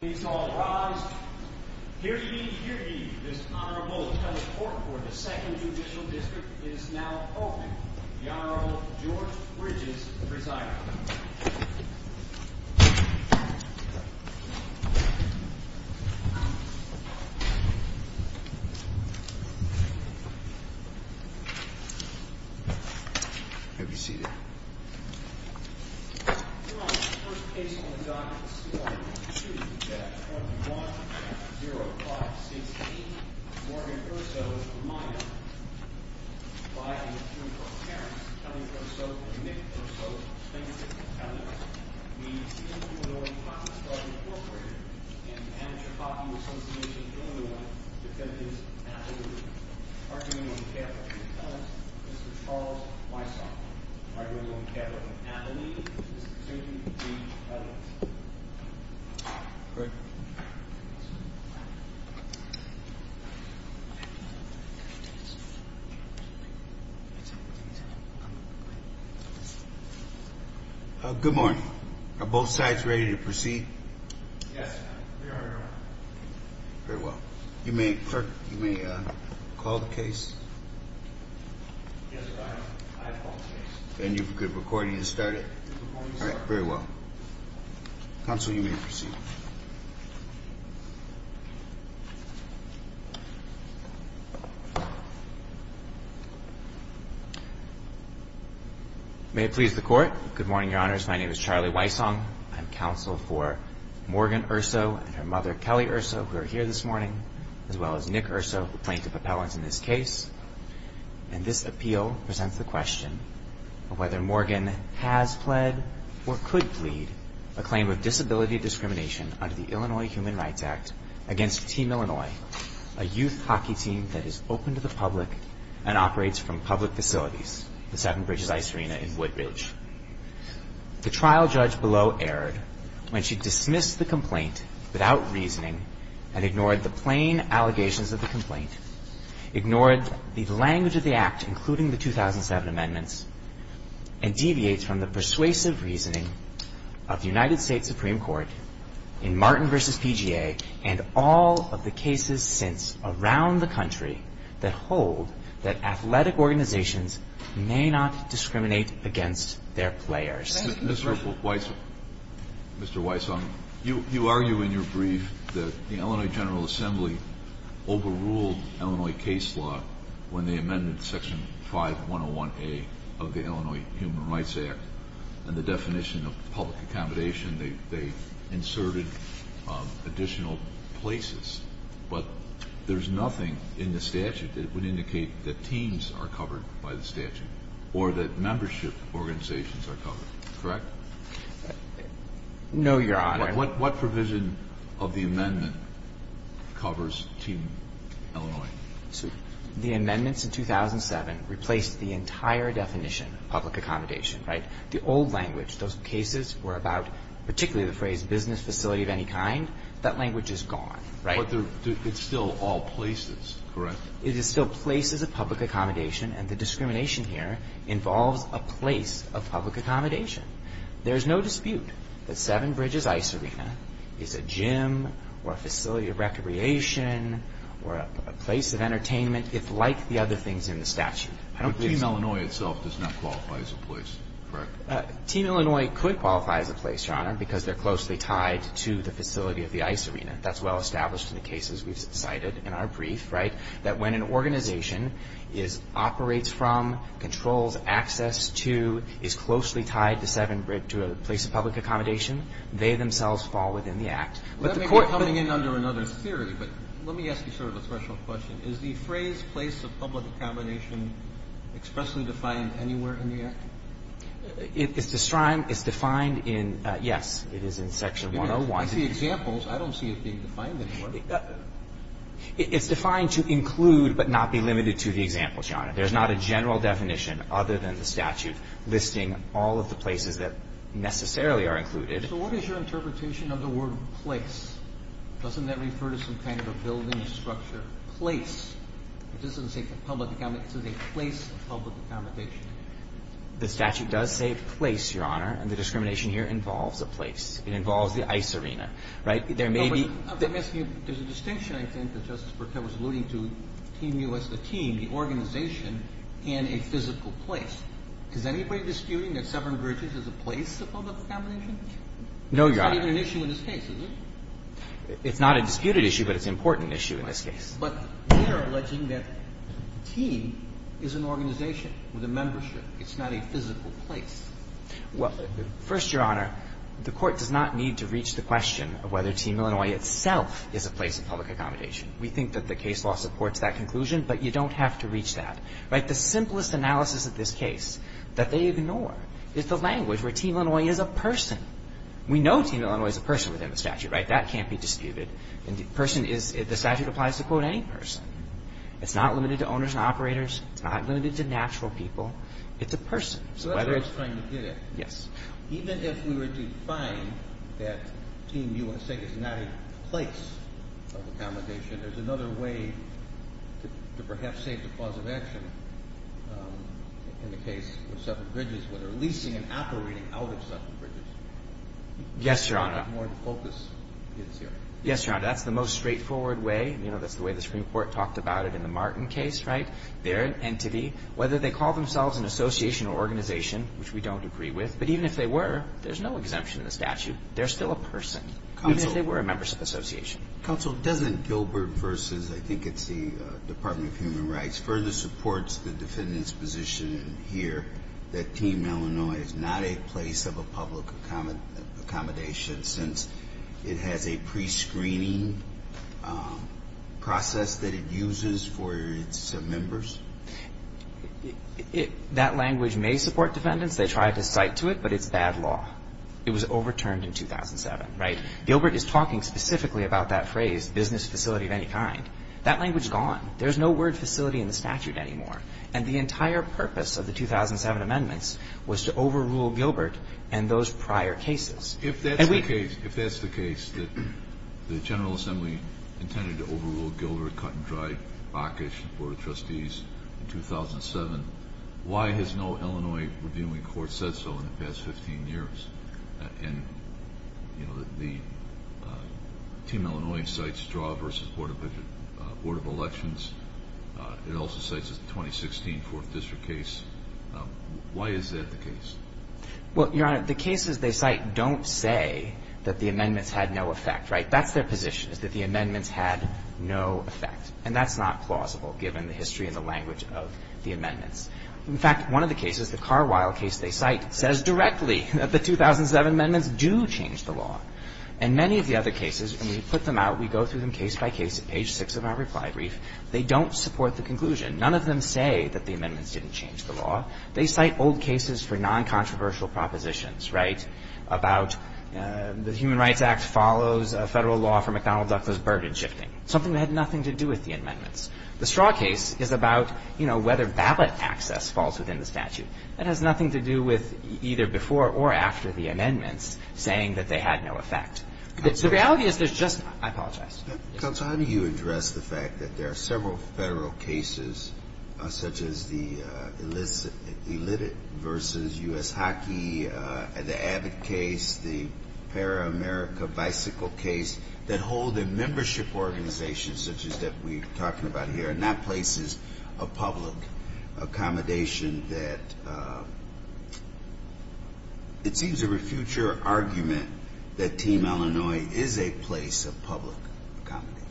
Please all rise. Here to give you this honorable teleport for the second judicial district is now open, the Honorable George Bridges, presiding. Have a seat. Your Honor, the first case on the docket is C.I. 2-1-1-0-5-6-8, Morgan Verso, a minor. By an attorney for appearance, Kelly Verso and Nick Verso, plaintiffs' attorneys, we appeal to the Illinois Hockey Club, Inc. and the Amateur Hockey Association, Illinois, defendants' attorneys. Mr. Charles Weisshoff, arguing on behalf of Natalie, is presumed to be defendants. Yes, Your Honor. Call the case. Yes, Your Honor. I call the case. Then you could record it and start it. All right. Very well. Counsel, you may proceed. May it please the Court. Good morning, Your Honors. My name is Charlie Weisshoff. I'm counsel for Morgan Verso and her mother, Kelly Verso, who are here this morning, as well as Nick Verso, the plaintiff appellant in this case. And this appeal presents the question of whether Morgan has pled or could plead a claim of disability discrimination under the Illinois Human Rights Act against Team Illinois, a youth hockey team that is open to the public and operates from public facilities, the Seven Bridges Ice Arena in Woodbridge. The trial judge below erred when she dismissed the complaint without reasoning and ignored the plain allegations of the complaint, ignored the language of the act, including the 2007 amendments, and deviates from the persuasive reasoning of the United States Supreme Court in Martin v. PGA and all of the cases since around the country that hold that athletic organizations may not discriminate against their players. Mr. Weisshoff, you argue in your brief that the Illinois General Assembly overruled Illinois case law when they amended Section 5101A of the Illinois Human Rights Act and the definition of public accommodation. They inserted additional places, but there's nothing in the statute that would indicate that teams are covered by the statute or that membership organizations are covered, correct? No, Your Honor. What provision of the amendment covers Team Illinois? The amendments in 2007 replaced the entire definition of public accommodation, right? The old language, those cases were about particularly the phrase business facility of any kind. That language is gone, right? But it's still all places, correct? It is still places of public accommodation, and the discrimination here involves a place of public accommodation. There is no dispute that Seven Bridges Ice Arena is a gym or a facility of recreation or a place of entertainment, if like the other things in the statute. But Team Illinois itself does not qualify as a place, correct? Team Illinois could qualify as a place, Your Honor, because they're closely tied to the facility of the ice arena. That's well established in the cases we've cited in our brief, right? That when an organization is operates from, controls, access to, is closely tied to Seven Bridges, to a place of public accommodation, they themselves fall within the Act. Let me be coming in under another theory, but let me ask you sort of a special question. Is the phrase place of public accommodation expressly defined anywhere in the Act? It's defined in, yes, it is in Section 101. I see examples. I don't see it being defined anywhere. It's defined to include but not be limited to the examples, Your Honor. There's not a general definition other than the statute listing all of the places that necessarily are included. So what is your interpretation of the word place? Doesn't that refer to some kind of a building structure? Place. It doesn't say public accommodation. It says a place of public accommodation. The statute does say place, Your Honor, and the discrimination here involves a place. It involves the ice arena. Right? There may be. There's a distinction, I think, that Justice Bercow was alluding to, Team U.S., the team, the organization, and a physical place. Is anybody disputing that Seven Bridges is a place of public accommodation? No, Your Honor. It's not even an issue in this case, is it? It's not a disputed issue, but it's an important issue in this case. But we are alleging that team is an organization with a membership. It's not a physical place. Well, first, Your Honor, the Court does not need to reach the question of whether Team Illinois itself is a place of public accommodation. We think that the case law supports that conclusion, but you don't have to reach that. Right? The simplest analysis of this case that they ignore is the language where Team Illinois is a person. We know Team Illinois is a person within the statute. Right? That can't be disputed. And the person is the statute applies to, quote, any person. It's not limited to owners and operators. It's not limited to natural people. It's a person. So that's where I was trying to get at. Yes. Even if we were to define that Team USA is not a place of accommodation, there's another way to perhaps save the cause of action in the case of Suffolk Bridges, whether leasing and operating out of Suffolk Bridges. Yes, Your Honor. That's where the focus is here. Yes, Your Honor. That's the most straightforward way. You know, that's the way the Supreme Court talked about it in the Martin case. Right? They're an entity. Whether they call themselves an association or organization, which we don't agree with, but even if they were, there's no exemption in the statute. They're still a person, even if they were a membership association. Counsel, doesn't Gilbert versus, I think it's the Department of Human Rights, further supports the defendant's position here that Team Illinois is not a place of a public accommodation since it has a prescreening process that it uses for its members? That language may support defendants. They tried to cite to it, but it's bad law. It was overturned in 2007. Right? Gilbert is talking specifically about that phrase, business facility of any kind. That language is gone. There's no word facility in the statute anymore. And the entire purpose of the 2007 amendments was to overrule Gilbert and those prior cases. Why has no Illinois reviewing court said so in the past 15 years? And, you know, the Team Illinois cites Straw versus Board of Elections. It also cites the 2016 Fourth District case. Why is that the case? Well, Your Honor, the cases they cite don't say that the amendments had no effect. Right? That's their position, is that the amendments had no effect. And that's not plausible, given the history and the language of the amendments. In fact, one of the cases, the Carwile case they cite, says directly that the 2007 amendments do change the law. And many of the other cases, when we put them out, we go through them case by case at page six of our reply brief. They don't support the conclusion. None of them say that the amendments didn't change the law. They cite old cases for non-controversial propositions, right, about the Human Rights Act follows a federal law for McDonnell-Ducklan's burden shifting, something that had nothing to do with the amendments. The Straw case is about, you know, whether ballot access falls within the statute. That has nothing to do with either before or after the amendments saying that they had no effect. The reality is there's just — I apologize. Counsel, how do you address the fact that there are several federal cases, such as the Illicit versus U.S. Hockey, the Abbott case, the Para-America Bicycle case, that hold a place of public accommodation, such as that we're talking about here, and not places of public accommodation that it seems to refute your argument that Team Illinois is a place of public accommodation?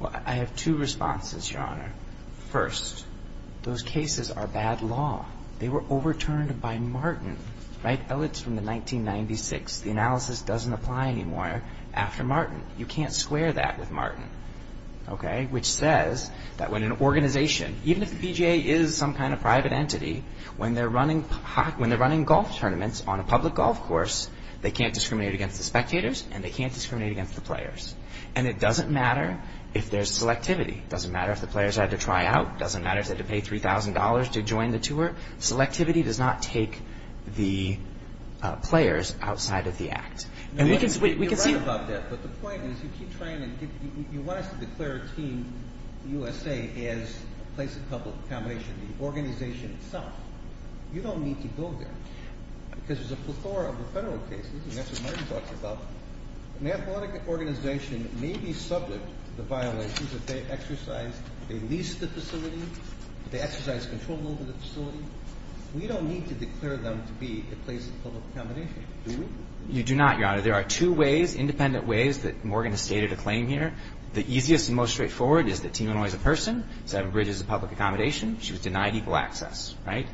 Well, I have two responses, Your Honor. First, those cases are bad law. They were overturned by Martin, right? That was from the 1996. The analysis doesn't apply anymore after Martin. You can't square that with Martin. Okay? Which says that when an organization, even if the PGA is some kind of private entity, when they're running golf tournaments on a public golf course, they can't discriminate against the spectators and they can't discriminate against the players. And it doesn't matter if there's selectivity. It doesn't matter if the players had to try out. It doesn't matter if they had to pay $3,000 to join the tour. Selectivity does not take the players outside of the act. You're right about that, but the point is you want us to declare Team USA as a place of public accommodation, the organization itself. You don't need to go there because there's a plethora of the federal cases, and that's what Martin talks about. An athletic organization may be subject to the violations if they exercise, if they lease the facility, if they exercise control over the facility. We don't need to declare them to be a place of public accommodation, do we? You do not, Your Honor. There are two ways, independent ways that Morgan has stated a claim here. The easiest and most straightforward is that Team Illinois is a person. Seven Bridges is a public accommodation. She was denied equal access, right?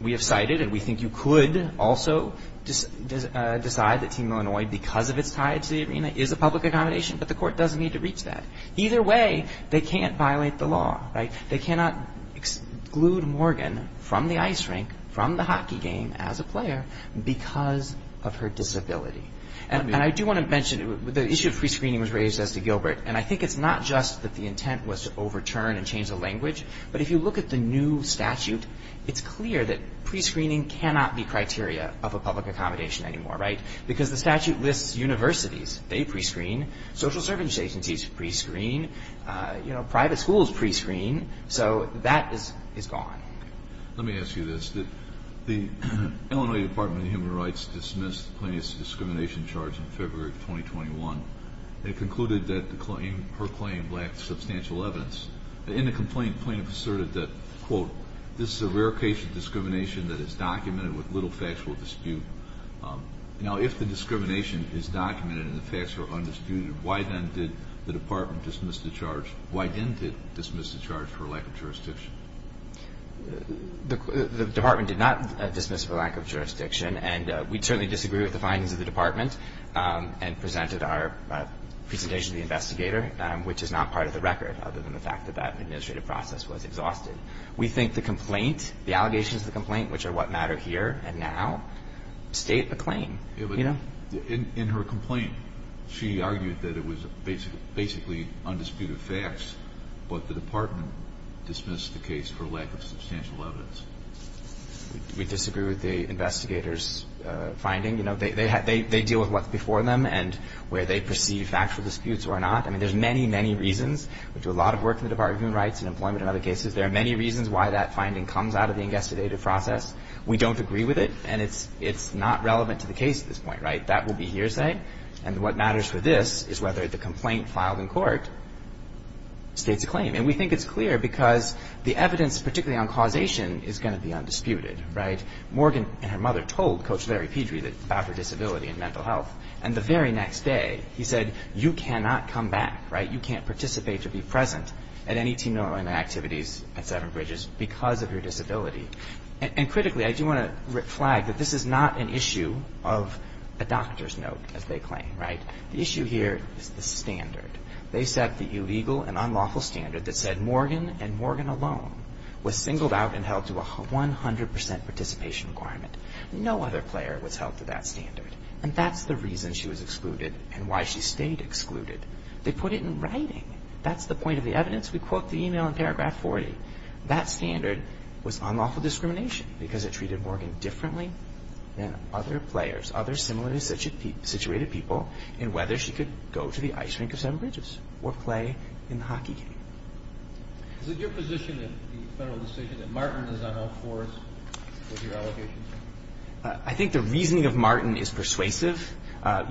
We have cited and we think you could also decide that Team Illinois, because of its tie to the arena, is a public accommodation, but the court doesn't need to reach that. Either way, they can't violate the law, right? They cannot exclude Morgan from the ice rink, from the hockey game as a player because of her disability. And I do want to mention the issue of prescreening was raised as to Gilbert, and I think it's not just that the intent was to overturn and change the language, but if you look at the new statute, it's clear that prescreening cannot be criteria of a public accommodation anymore, right? Because the statute lists universities. They prescreen. Social service agencies prescreen. Private schools prescreen. So that is gone. Let me ask you this. The Illinois Department of Human Rights dismissed the plaintiff's discrimination charge in February of 2021. It concluded that her claim lacked substantial evidence. In the complaint, plaintiff asserted that, quote, this is a rare case of discrimination that is documented with little factual dispute. Now, if the discrimination is documented and the facts are undisputed, why then did the department dismiss the charge? The department did not dismiss her lack of jurisdiction, and we certainly disagree with the findings of the department and presented our presentation to the investigator, which is not part of the record other than the fact that that administrative process was exhausted. We think the complaint, the allegations of the complaint, which are what matter here and now, state the claim. In her complaint, she argued that it was basically undisputed facts, but the department dismissed the case for lack of substantial evidence. We disagree with the investigator's finding. You know, they deal with what's before them and where they perceive factual disputes or not. I mean, there's many, many reasons. We do a lot of work in the Department of Human Rights and employment and other cases. There are many reasons why that finding comes out of the investigative process. We don't agree with it, and it's not relevant to the case at this point, right? That will be hearsay. And what matters for this is whether the complaint filed in court states a claim. And we think it's clear because the evidence, particularly on causation, is going to be undisputed, right? Morgan and her mother told Coach Larry Pedry about her disability and mental health, and the very next day, he said, you cannot come back, right? You can't participate or be present at any team normal activities at Severn Bridges because of your disability. And critically, I do want to flag that this is not an issue of a doctor's note, as they claim, right? The issue here is the standard. They set the illegal and unlawful standard that said Morgan and Morgan alone was singled out and held to a 100 percent participation requirement. No other player was held to that standard. And that's the reason she was excluded and why she stayed excluded. They put it in writing. That's the point of the evidence. We quote the e-mail in paragraph 40. That standard was unlawful discrimination because it treated Morgan differently than other players, other similarly situated people in whether she could go to the ice rink of Severn Bridges or play in the hockey game. Is it your position in the federal decision that Martin is on all fours with your allegations? I think the reasoning of Martin is persuasive.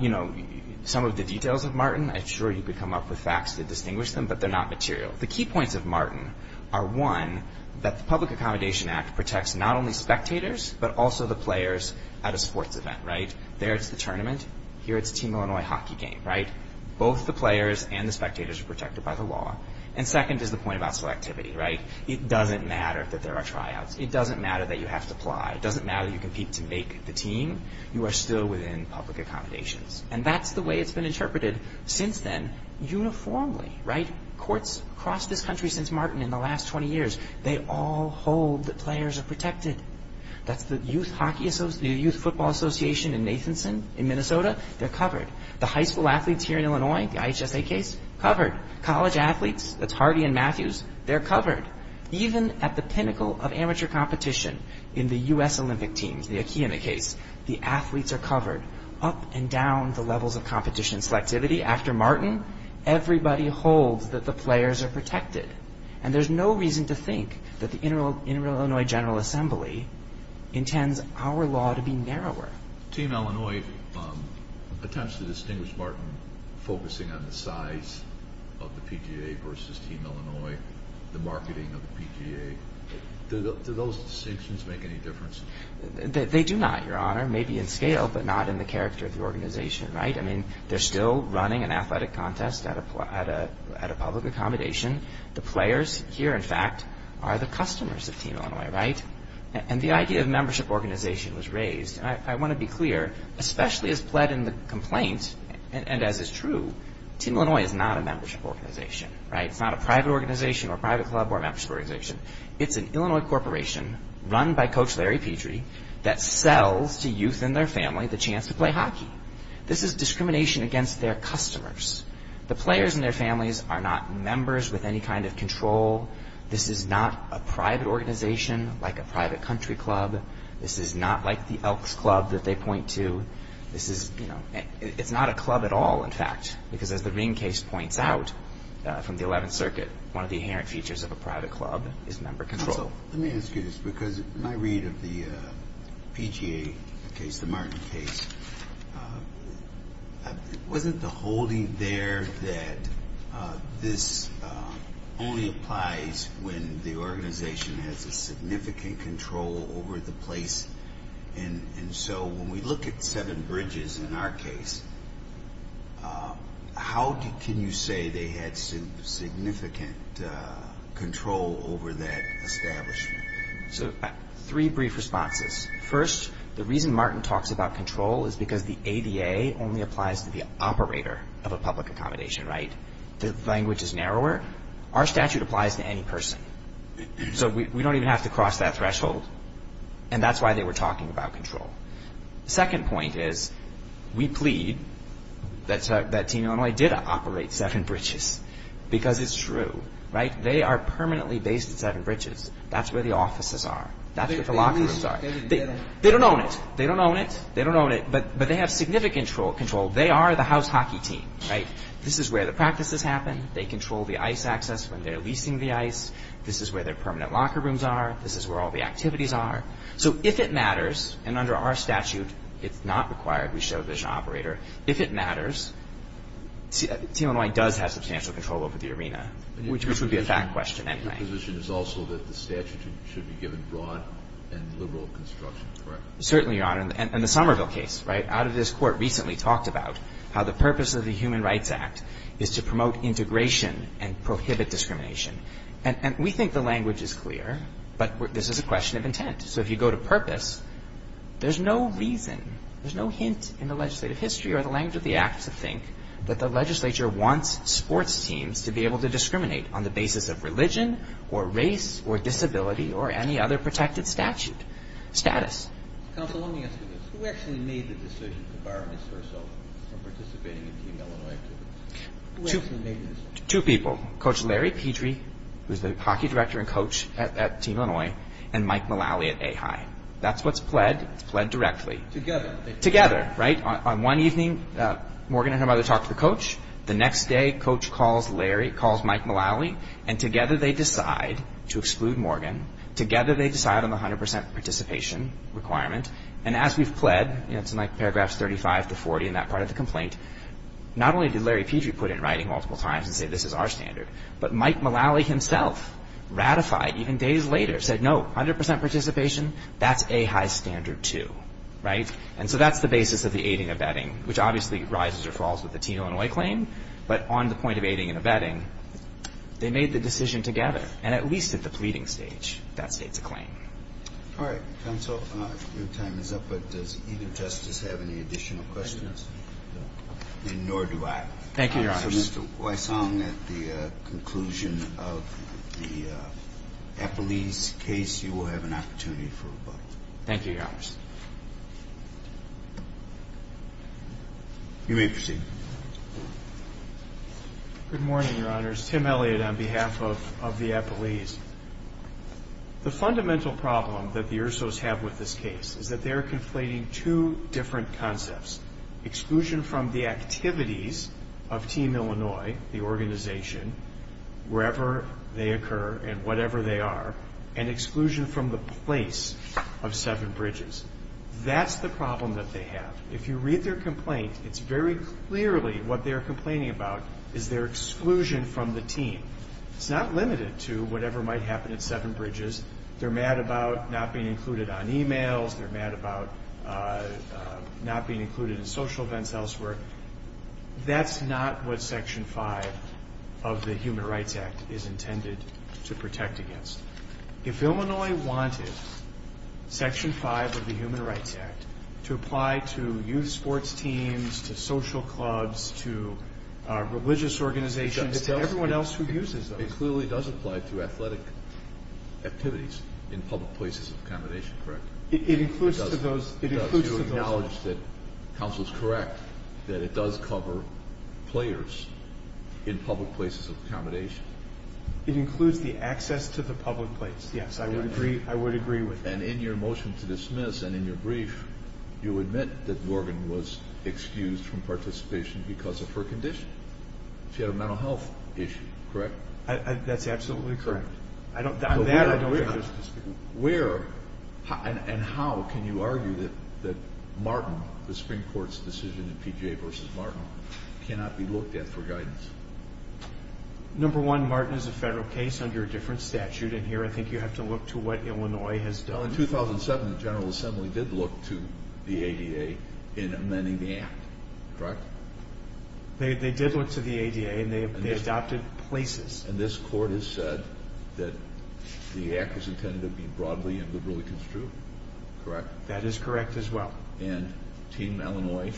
You know, some of the details of Martin, I'm sure you could come up with facts to distinguish them, but they're not material. The key points of Martin are, one, that the Public Accommodation Act protects not only spectators but also the players at a sports event, right? There it's the tournament. Here it's a Team Illinois hockey game, right? Both the players and the spectators are protected by the law. And second is the point about selectivity, right? It doesn't matter that there are tryouts. It doesn't matter that you have to apply. It doesn't matter that you compete to make the team. You are still within public accommodations. And that's the way it's been interpreted since then uniformly, right? The courts across this country since Martin in the last 20 years, they all hold that players are protected. That's the Youth Hockey Association, the Youth Football Association in Nathanson in Minnesota. They're covered. The high school athletes here in Illinois, the IHSA case, covered. College athletes, that's Harvey and Matthews, they're covered. Even at the pinnacle of amateur competition in the U.S. Olympic teams, the Akiyama case, the athletes are covered up and down the levels of competition. Selectivity, after Martin, everybody holds that the players are protected. And there's no reason to think that the Inter-Illinois General Assembly intends our law to be narrower. Team Illinois attempts to distinguish Martin focusing on the size of the PGA versus Team Illinois, the marketing of the PGA. Do those distinctions make any difference? They do not, Your Honor, maybe in scale, but not in the character of the organization, right? I mean, they're still running an athletic contest at a public accommodation. The players here, in fact, are the customers of Team Illinois, right? And the idea of membership organization was raised. I want to be clear, especially as pled in the complaint, and as is true, Team Illinois is not a membership organization, right? It's not a private organization or a private club or a membership organization. It's an Illinois corporation run by Coach Larry Petrie that sells to youth and their family the chance to play hockey. This is discrimination against their customers. The players and their families are not members with any kind of control. This is not a private organization like a private country club. This is not like the Elks Club that they point to. This is, you know, it's not a club at all, in fact, because as the Ring case points out from the Eleventh Circuit, one of the inherent features of a private club is member control. So let me ask you this, because in my read of the PGA case, the Martin case, wasn't the holding there that this only applies when the organization has a significant control over the place? And so when we look at Seven Bridges in our case, how can you say they had significant control over that establishment? So three brief responses. First, the reason Martin talks about control is because the ADA only applies to the operator of a public accommodation, right? The language is narrower. Our statute applies to any person. So we don't even have to cross that threshold, and that's why they were talking about control. The second point is we plead that Team Illinois did operate Seven Bridges because it's true, right? They are permanently based at Seven Bridges. That's where the offices are. That's where the locker rooms are. They don't own it. They don't own it. They don't own it, but they have significant control. They are the house hockey team, right? This is where the practices happen. They control the ice access when they're leasing the ice. This is where their permanent locker rooms are. This is where all the activities are. So if it matters, and under our statute it's not required. We show it as an operator. If it matters, Team Illinois does have substantial control over the arena, which would be a fact question anyway. Your position is also that the statute should be given broad and liberal construction, correct? Certainly, Your Honor, and the Somerville case, right? talked about how the purpose of the Human Rights Act is to promote integration and prohibit discrimination. And we think the language is clear, but this is a question of intent. So if you go to purpose, there's no reason, there's no hint in the legislative history or the language of the act to think that the legislature wants sports teams to be able to discriminate on the basis of religion or race or disability or any other protected statute status. Counsel, let me ask you this. Who actually made the decision to bar Ms. Herself from participating in Team Illinois activities? Who actually made the decision? Two people. Coach Larry Petrie, who's the hockey director and coach at Team Illinois, and Mike Mullally at A-High. That's what's pled. It's pled directly. Together. Together, right? On one evening, Morgan and her mother talk to the coach. The next day, coach calls Larry, calls Mike Mullally, and together they decide to exclude Morgan. Together they decide on the 100 percent participation requirement. And as we've pled, it's in like paragraphs 35 to 40 in that part of the complaint, not only did Larry Petrie put in writing multiple times and say this is our standard, but Mike Mullally himself ratified even days later, said no, 100 percent participation, that's A-High standard 2. Right? And so that's the basis of the aiding and abetting, which obviously rises or falls with the Team Illinois claim. But on the point of aiding and abetting, they made the decision together, and at least at the pleading stage, that states a claim. All right. Counsel, your time is up. But does either justice have any additional questions? No. And nor do I. Thank you, Your Honor. So Mr. Weissong, at the conclusion of the Eppley's case, you will have an opportunity for rebuttal. Thank you, Your Honor. You may proceed. Good morning, Your Honors. Tim Elliott on behalf of the Eppley's. The fundamental problem that the Ursos have with this case is that they are conflating two different concepts, exclusion from the activities of Team Illinois, the organization, wherever they occur and whatever they are, and exclusion from the place of Seven Bridges. That's the problem that they have. If you read their complaint, it's very clearly what they are complaining about is their exclusion from the team. It's not limited to whatever might happen at Seven Bridges. They're mad about not being included on e-mails. They're mad about not being included in social events elsewhere. That's not what Section 5 of the Human Rights Act is intended to protect against. If Illinois wanted Section 5 of the Human Rights Act to apply to youth sports teams, to social clubs, to religious organizations, to everyone else who uses those. It clearly does apply to athletic activities in public places of accommodation, correct? It includes to those. It does. You acknowledge that counsel is correct, that it does cover players in public places of accommodation. It includes the access to the public place. Yes, I would agree with that. And in your motion to dismiss and in your brief, you admit that Morgan was excused from participation because of her condition. She had a mental health issue, correct? That's absolutely correct. Where and how can you argue that Martin, the Supreme Court's decision in PGA v. Martin, cannot be looked at for guidance? Number one, Martin is a federal case under a different statute, and here I think you have to look to what Illinois has done. In 2007, the General Assembly did look to the ADA in amending the Act, correct? They did look to the ADA, and they adopted places. And this Court has said that the Act is intended to be broadly and liberally construed, correct? That is correct as well. And Team Illinois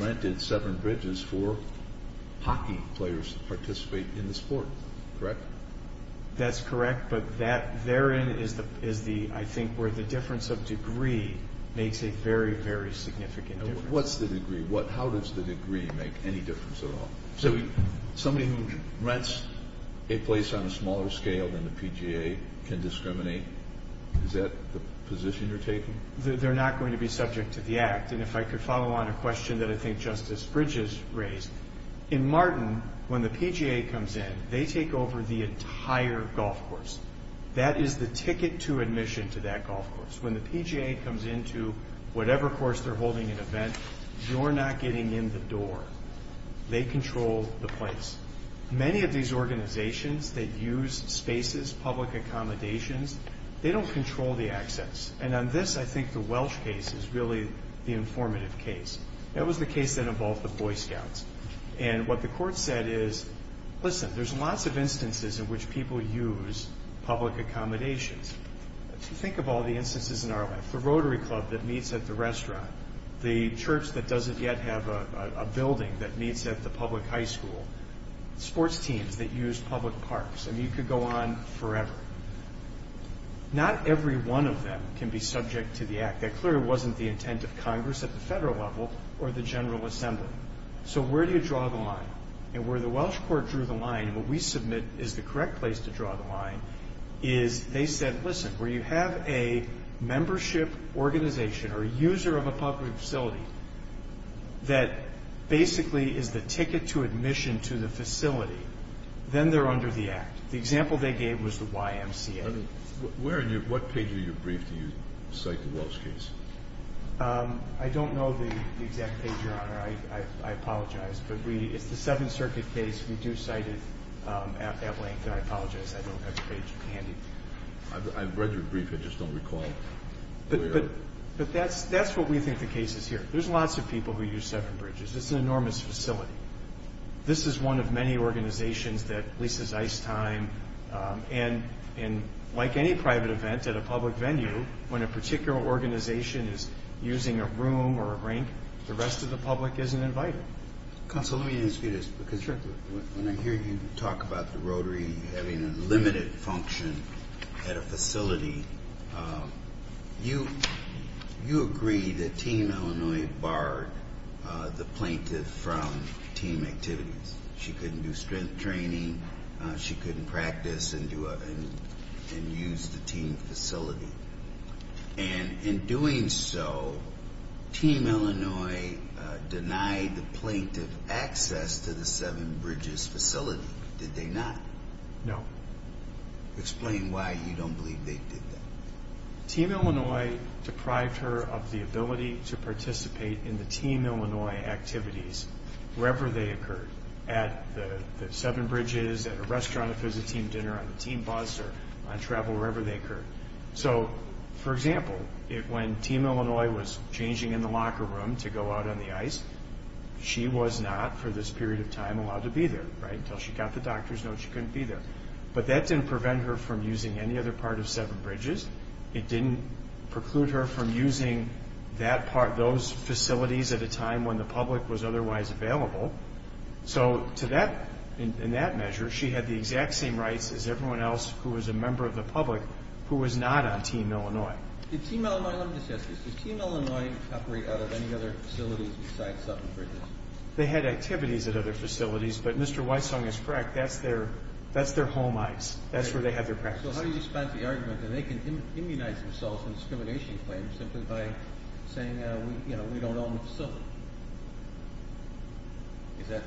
rented seven bridges for hockey players to participate in the sport, correct? That's correct, but that therein is, I think, where the difference of degree makes a very, very significant difference. What's the degree? How does the degree make any difference at all? Somebody who rents a place on a smaller scale than the PGA can discriminate. Is that the position you're taking? They're not going to be subject to the Act. And if I could follow on a question that I think Justice Bridges raised, in Martin, when the PGA comes in, they take over the entire golf course. That is the ticket to admission to that golf course. When the PGA comes into whatever course they're holding an event, you're not getting in the door. They control the place. Many of these organizations that use spaces, public accommodations, they don't control the access. And on this, I think the Welsh case is really the informative case. That was the case that involved the Boy Scouts. And what the court said is, listen, there's lots of instances in which people use public accommodations. Think of all the instances in our life. The Rotary Club that meets at the restaurant. The church that doesn't yet have a building that meets at the public high school. Sports teams that use public parks. I mean, you could go on forever. Not every one of them can be subject to the Act. That clearly wasn't the intent of Congress at the federal level or the General Assembly. So where do you draw the line? And where the Welsh court drew the line, and what we submit is the correct place to draw the line, is they said, listen, where you have a membership organization or user of a public facility that basically is the ticket to admission to the facility, then they're under the Act. The example they gave was the YMCA. What page of your brief do you cite the Welsh case? I don't know the exact page, Your Honor. I apologize. But it's the Seventh Circuit case. We do cite it at length. I apologize. I don't have the page handy. I've read your brief. I just don't recall. But that's what we think the case is here. There's lots of people who use Severn Bridges. It's an enormous facility. This is one of many organizations that leases ice time. And like any private event at a public venue, when a particular organization is using a room or a rink, the rest of the public isn't invited. Counsel, let me ask you this. Because when I hear you talk about the Rotary having a limited function at a facility, you agree that Team Illinois barred the plaintiff from team activities. She couldn't do strength training. She couldn't practice and use the team facility. And in doing so, Team Illinois denied the plaintiff access to the Severn Bridges facility. Did they not? No. Explain why you don't believe they did that. Team Illinois deprived her of the ability to participate in the Team Illinois activities wherever they occurred, at the Severn Bridges, at a restaurant if it was a team dinner, on the team bus, or on travel, wherever they occurred. So, for example, when Team Illinois was changing in the locker room to go out on the ice, she was not, for this period of time, allowed to be there. Until she got the doctor's note, she couldn't be there. But that didn't prevent her from using any other part of Severn Bridges. It didn't preclude her from using those facilities at a time when the public was otherwise available. So, in that measure, she had the exact same rights as everyone else who was a member of the public who was not on Team Illinois. Did Team Illinois operate out of any other facilities besides Severn Bridges? They had activities at other facilities, but Mr. Weissong is correct. That's their home ice. That's where they had their practices. So, how do you dispense the argument that they can immunize themselves from discrimination claims simply by saying, you know, we don't own the facility? Is that?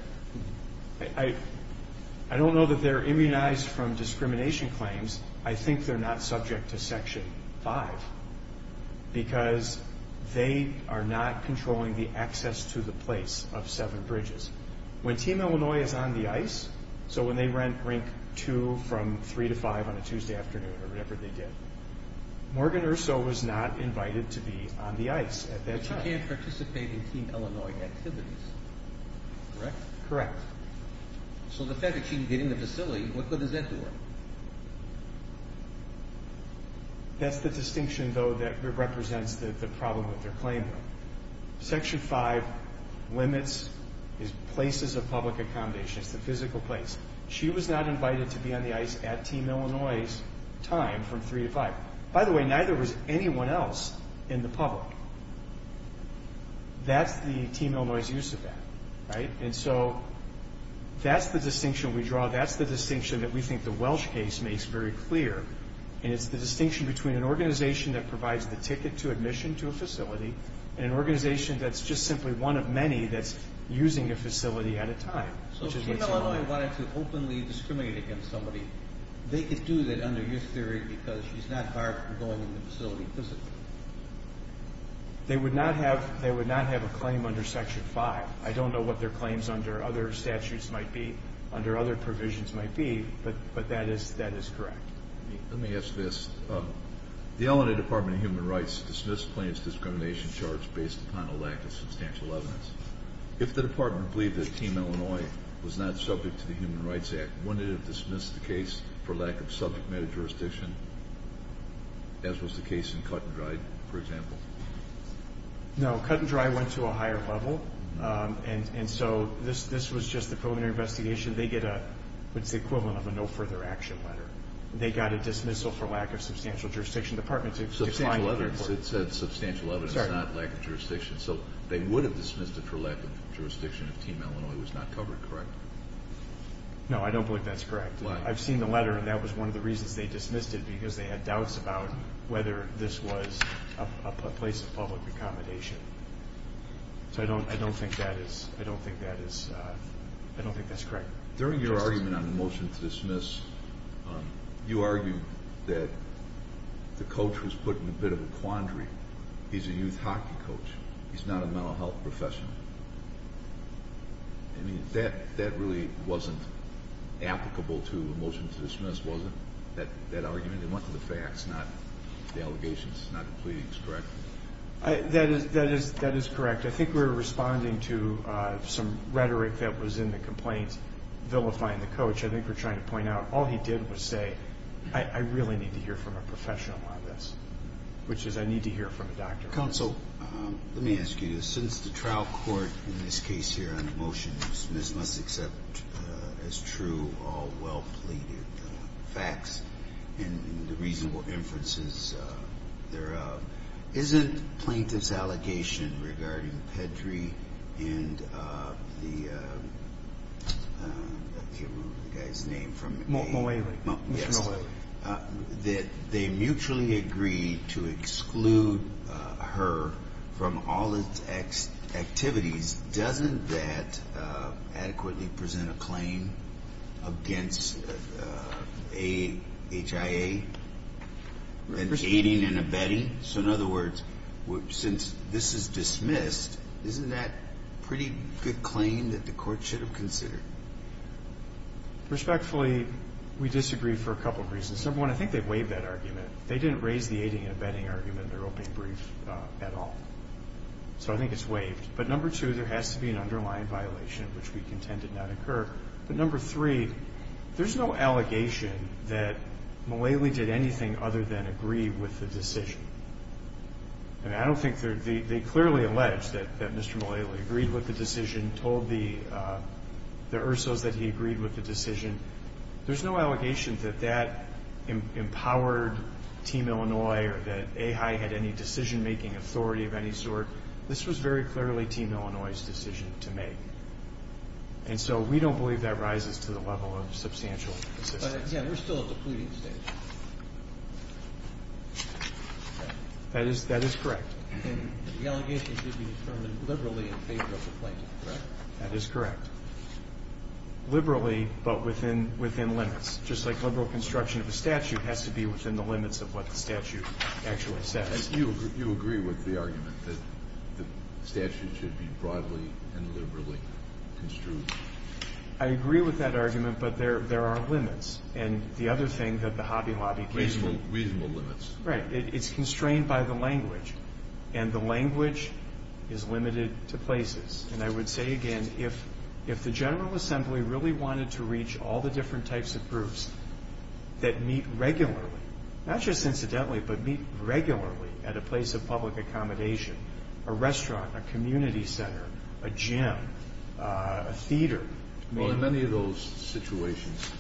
I don't know that they're immunized from discrimination claims. I think they're not subject to Section 5 because they are not controlling the access to the place of Severn Bridges. When Team Illinois is on the ice, so when they rank 2 from 3 to 5 on a Tuesday afternoon or whatever they did, Morgan Urso was not invited to be on the ice at that time. She can't participate in Team Illinois activities, correct? Correct. So, the fact that she didn't get in the facility, what good does that do her? That's the distinction, though, that represents the problem with their claim. Section 5 limits is places of public accommodation. It's the physical place. She was not invited to be on the ice at Team Illinois' time from 3 to 5. By the way, neither was anyone else in the public. That's the Team Illinois' use of that, right? And so, that's the distinction we draw. That's the distinction that we think the Welsh case makes very clear, and it's the distinction between an organization that provides the ticket to admission to a facility and an organization that's just simply one of many that's using a facility at a time. So, Team Illinois wanted to openly discriminate against somebody. They could do that under your theory because she's not barred from going in the facility physically. They would not have a claim under Section 5. I don't know what their claims under other statutes might be, under other provisions might be, but that is correct. Let me ask this. The Illinois Department of Human Rights dismissed plaintiff's discrimination charge based upon a lack of substantial evidence. If the department believed that Team Illinois was not subject to the Human Rights Act, wouldn't it have dismissed the case for lack of subject matter jurisdiction, as was the case in Cut and Dry, for example? No, Cut and Dry went to a higher level, and so this was just a preliminary investigation. They get what's the equivalent of a no further action letter. They got a dismissal for lack of substantial jurisdiction. Substantial evidence. It said substantial evidence, not lack of jurisdiction, so they would have dismissed it for lack of jurisdiction if Team Illinois was not covered, correct? No, I don't believe that's correct. I've seen the letter, and that was one of the reasons they dismissed it, because they had doubts about whether this was a place of public accommodation. So I don't think that is correct. During your argument on the motion to dismiss, you argued that the coach was put in a bit of a quandary. He's a youth hockey coach. He's not a mental health professional. I mean, that really wasn't applicable to the motion to dismiss, was it? That argument that went to the facts, not the allegations, not the pleadings, correct? That is correct. I think we were responding to some rhetoric that was in the complaint vilifying the coach. I think we're trying to point out all he did was say, I really need to hear from a professional on this, which is I need to hear from a doctor. Counsel, let me ask you. Since the trial court, in this case here on the motion to dismiss, must accept as true all well-pleaded facts and the reasonable inferences thereof, isn't plaintiff's allegation regarding Petrie and the guy's name from the case? Mulally. Yes. That they mutually agree to exclude her from all activities, doesn't that adequately present a claim against HIA? Aiding and abetting? So in other words, since this is dismissed, isn't that a pretty good claim that the court should have considered? Respectfully, we disagree for a couple of reasons. Number one, I think they waived that argument. They didn't raise the aiding and abetting argument in their opening brief at all. So I think it's waived. But number two, there has to be an underlying violation, which we contend did not occur. But number three, there's no allegation that Mulally did anything other than agree with the decision. They clearly alleged that Mr. Mulally agreed with the decision, told the Ursos that he agreed with the decision. There's no allegation that that empowered Team Illinois or that AHAI had any decision-making authority of any sort. This was very clearly Team Illinois' decision to make. And so we don't believe that rises to the level of substantial assistance. But, again, we're still at the pleading stage. That is correct. And the allegation should be determined liberally in favor of the plaintiff, correct? That is correct. Liberally, but within limits. Just like liberal construction of a statute has to be within the limits of what the statute actually says. You agree with the argument that the statute should be broadly and liberally construed? I agree with that argument, but there are limits. And the other thing that the Hobby Lobby case did. Reasonable limits. Right. It's constrained by the language, and the language is limited to places. And I would say again, if the General Assembly really wanted to reach all the different types of groups that meet regularly, not just incidentally, but meet regularly at a place of public accommodation, a restaurant, a community center, a gym, a theater. Well, in many of those situations,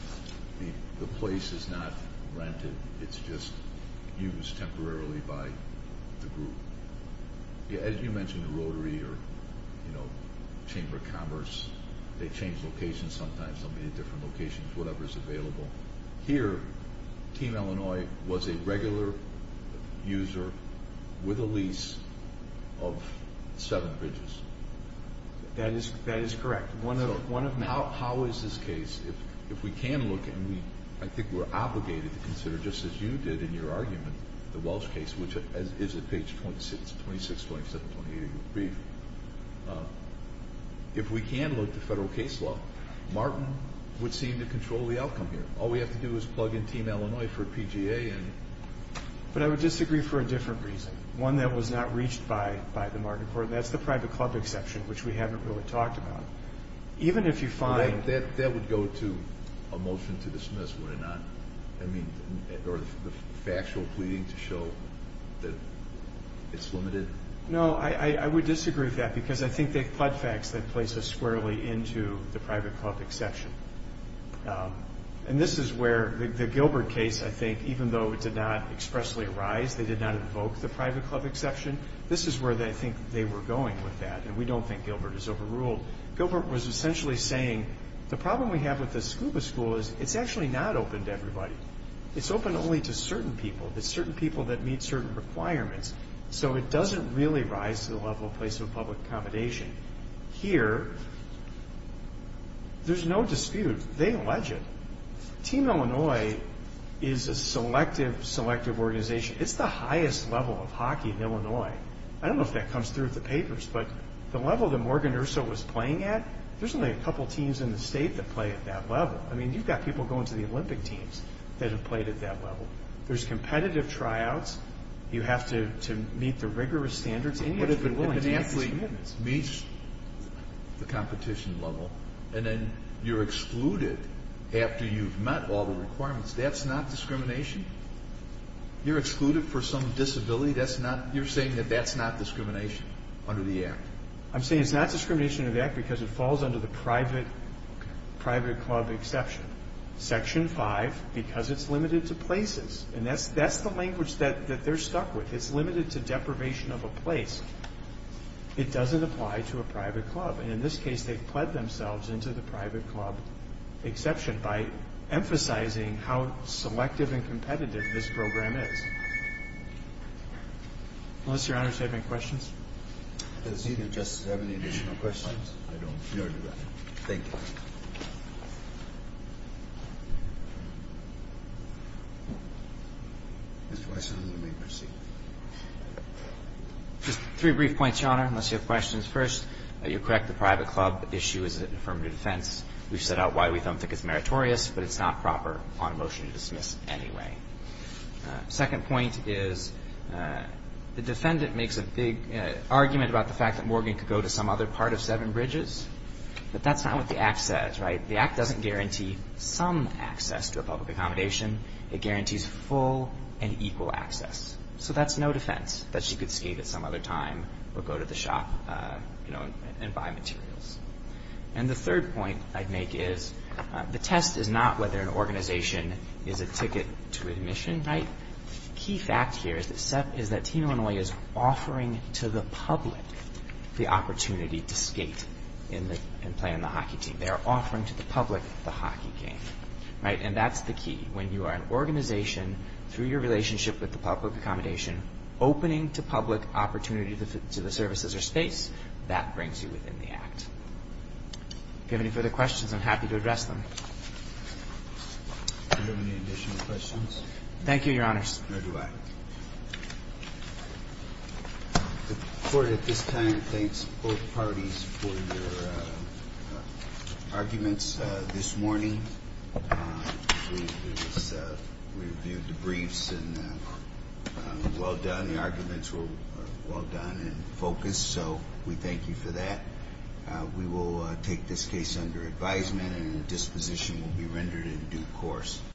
the place is not rented. It's just used temporarily by the group. You mentioned the Rotary or Chamber of Commerce. They change locations sometimes. There will be different locations, whatever is available. Here, Team Illinois was a regular user with a lease of seven bridges. That is correct. How is this case, if we can look, and I think we're obligated to consider, just as you did in your argument, the Welsh case, which is at page 26, 27, 28 of your brief. If we can look to federal case law, Martin would seem to control the outcome here. All we have to do is plug in Team Illinois for a PGA. But I would disagree for a different reason, one that was not reached by the Martin Court, and that's the private club exception, which we haven't really talked about. Even if you find... That would go to a motion to dismiss, would it not? I mean, or the factual pleading to show that it's limited? No, I would disagree with that because I think they've plugged facts that place us squarely into the private club exception. And this is where the Gilbert case, I think, even though it did not expressly arise, they did not invoke the private club exception, this is where I think they were going with that. And we don't think Gilbert is overruled. Gilbert was essentially saying the problem we have with the scuba school is it's actually not open to everybody. It's open only to certain people. It's certain people that meet certain requirements. So it doesn't really rise to the level of place of public accommodation. Here, there's no dispute. They allege it. Team Illinois is a selective, selective organization. It's the highest level of hockey in Illinois. I don't know if that comes through at the papers, but the level that Morgan Urso was playing at, there's only a couple teams in the state that play at that level. I mean, you've got people going to the Olympic teams that have played at that level. There's competitive tryouts. You have to meet the rigorous standards. If an athlete meets the competition level and then you're excluded after you've met all the requirements, that's not discrimination? You're excluded for some disability? You're saying that that's not discrimination under the Act? I'm saying it's not discrimination under the Act because it falls under the private club exception. Section 5, because it's limited to places. And that's the language that they're stuck with. It's limited to deprivation of a place. It doesn't apply to a private club. And in this case, they've pled themselves into the private club exception by emphasizing how selective and competitive this program is. Unless, Your Honor, you have any questions? Does either Justice have any additional questions? I don't. No, Your Honor. Thank you. Just three brief points, Your Honor, unless you have questions. First, you're correct, the private club issue is an affirmative defense. We've set out why we don't think it's meritorious, but it's not proper on a motion to dismiss anyway. Second point is the defendant makes a big argument about the fact that Morgan could go to some other part of Seven Bridges. But that's not what the Act says, right? The Act doesn't guarantee some access to a public accommodation. It guarantees full and equal access. So that's no defense that she could skate at some other time or go to the shop and buy materials. And the third point I'd make is the test is not whether an organization is a ticket to admission, right? Key fact here is that Team Illinois is offering to the public the opportunity to skate and play on the hockey team. They are offering to the public the hockey game, right? And that's the key. When you are an organization, through your relationship with the public accommodation, opening to public opportunity to the services or space, that brings you within the Act. If you have any further questions, I'm happy to address them. Do you have any additional questions? Thank you, Your Honors. Nor do I. The Court at this time thanks both parties for their arguments this morning. We reviewed the briefs and well done. The arguments were well done and focused. So we thank you for that. We will take this case under advisement and a disposition will be rendered in due course.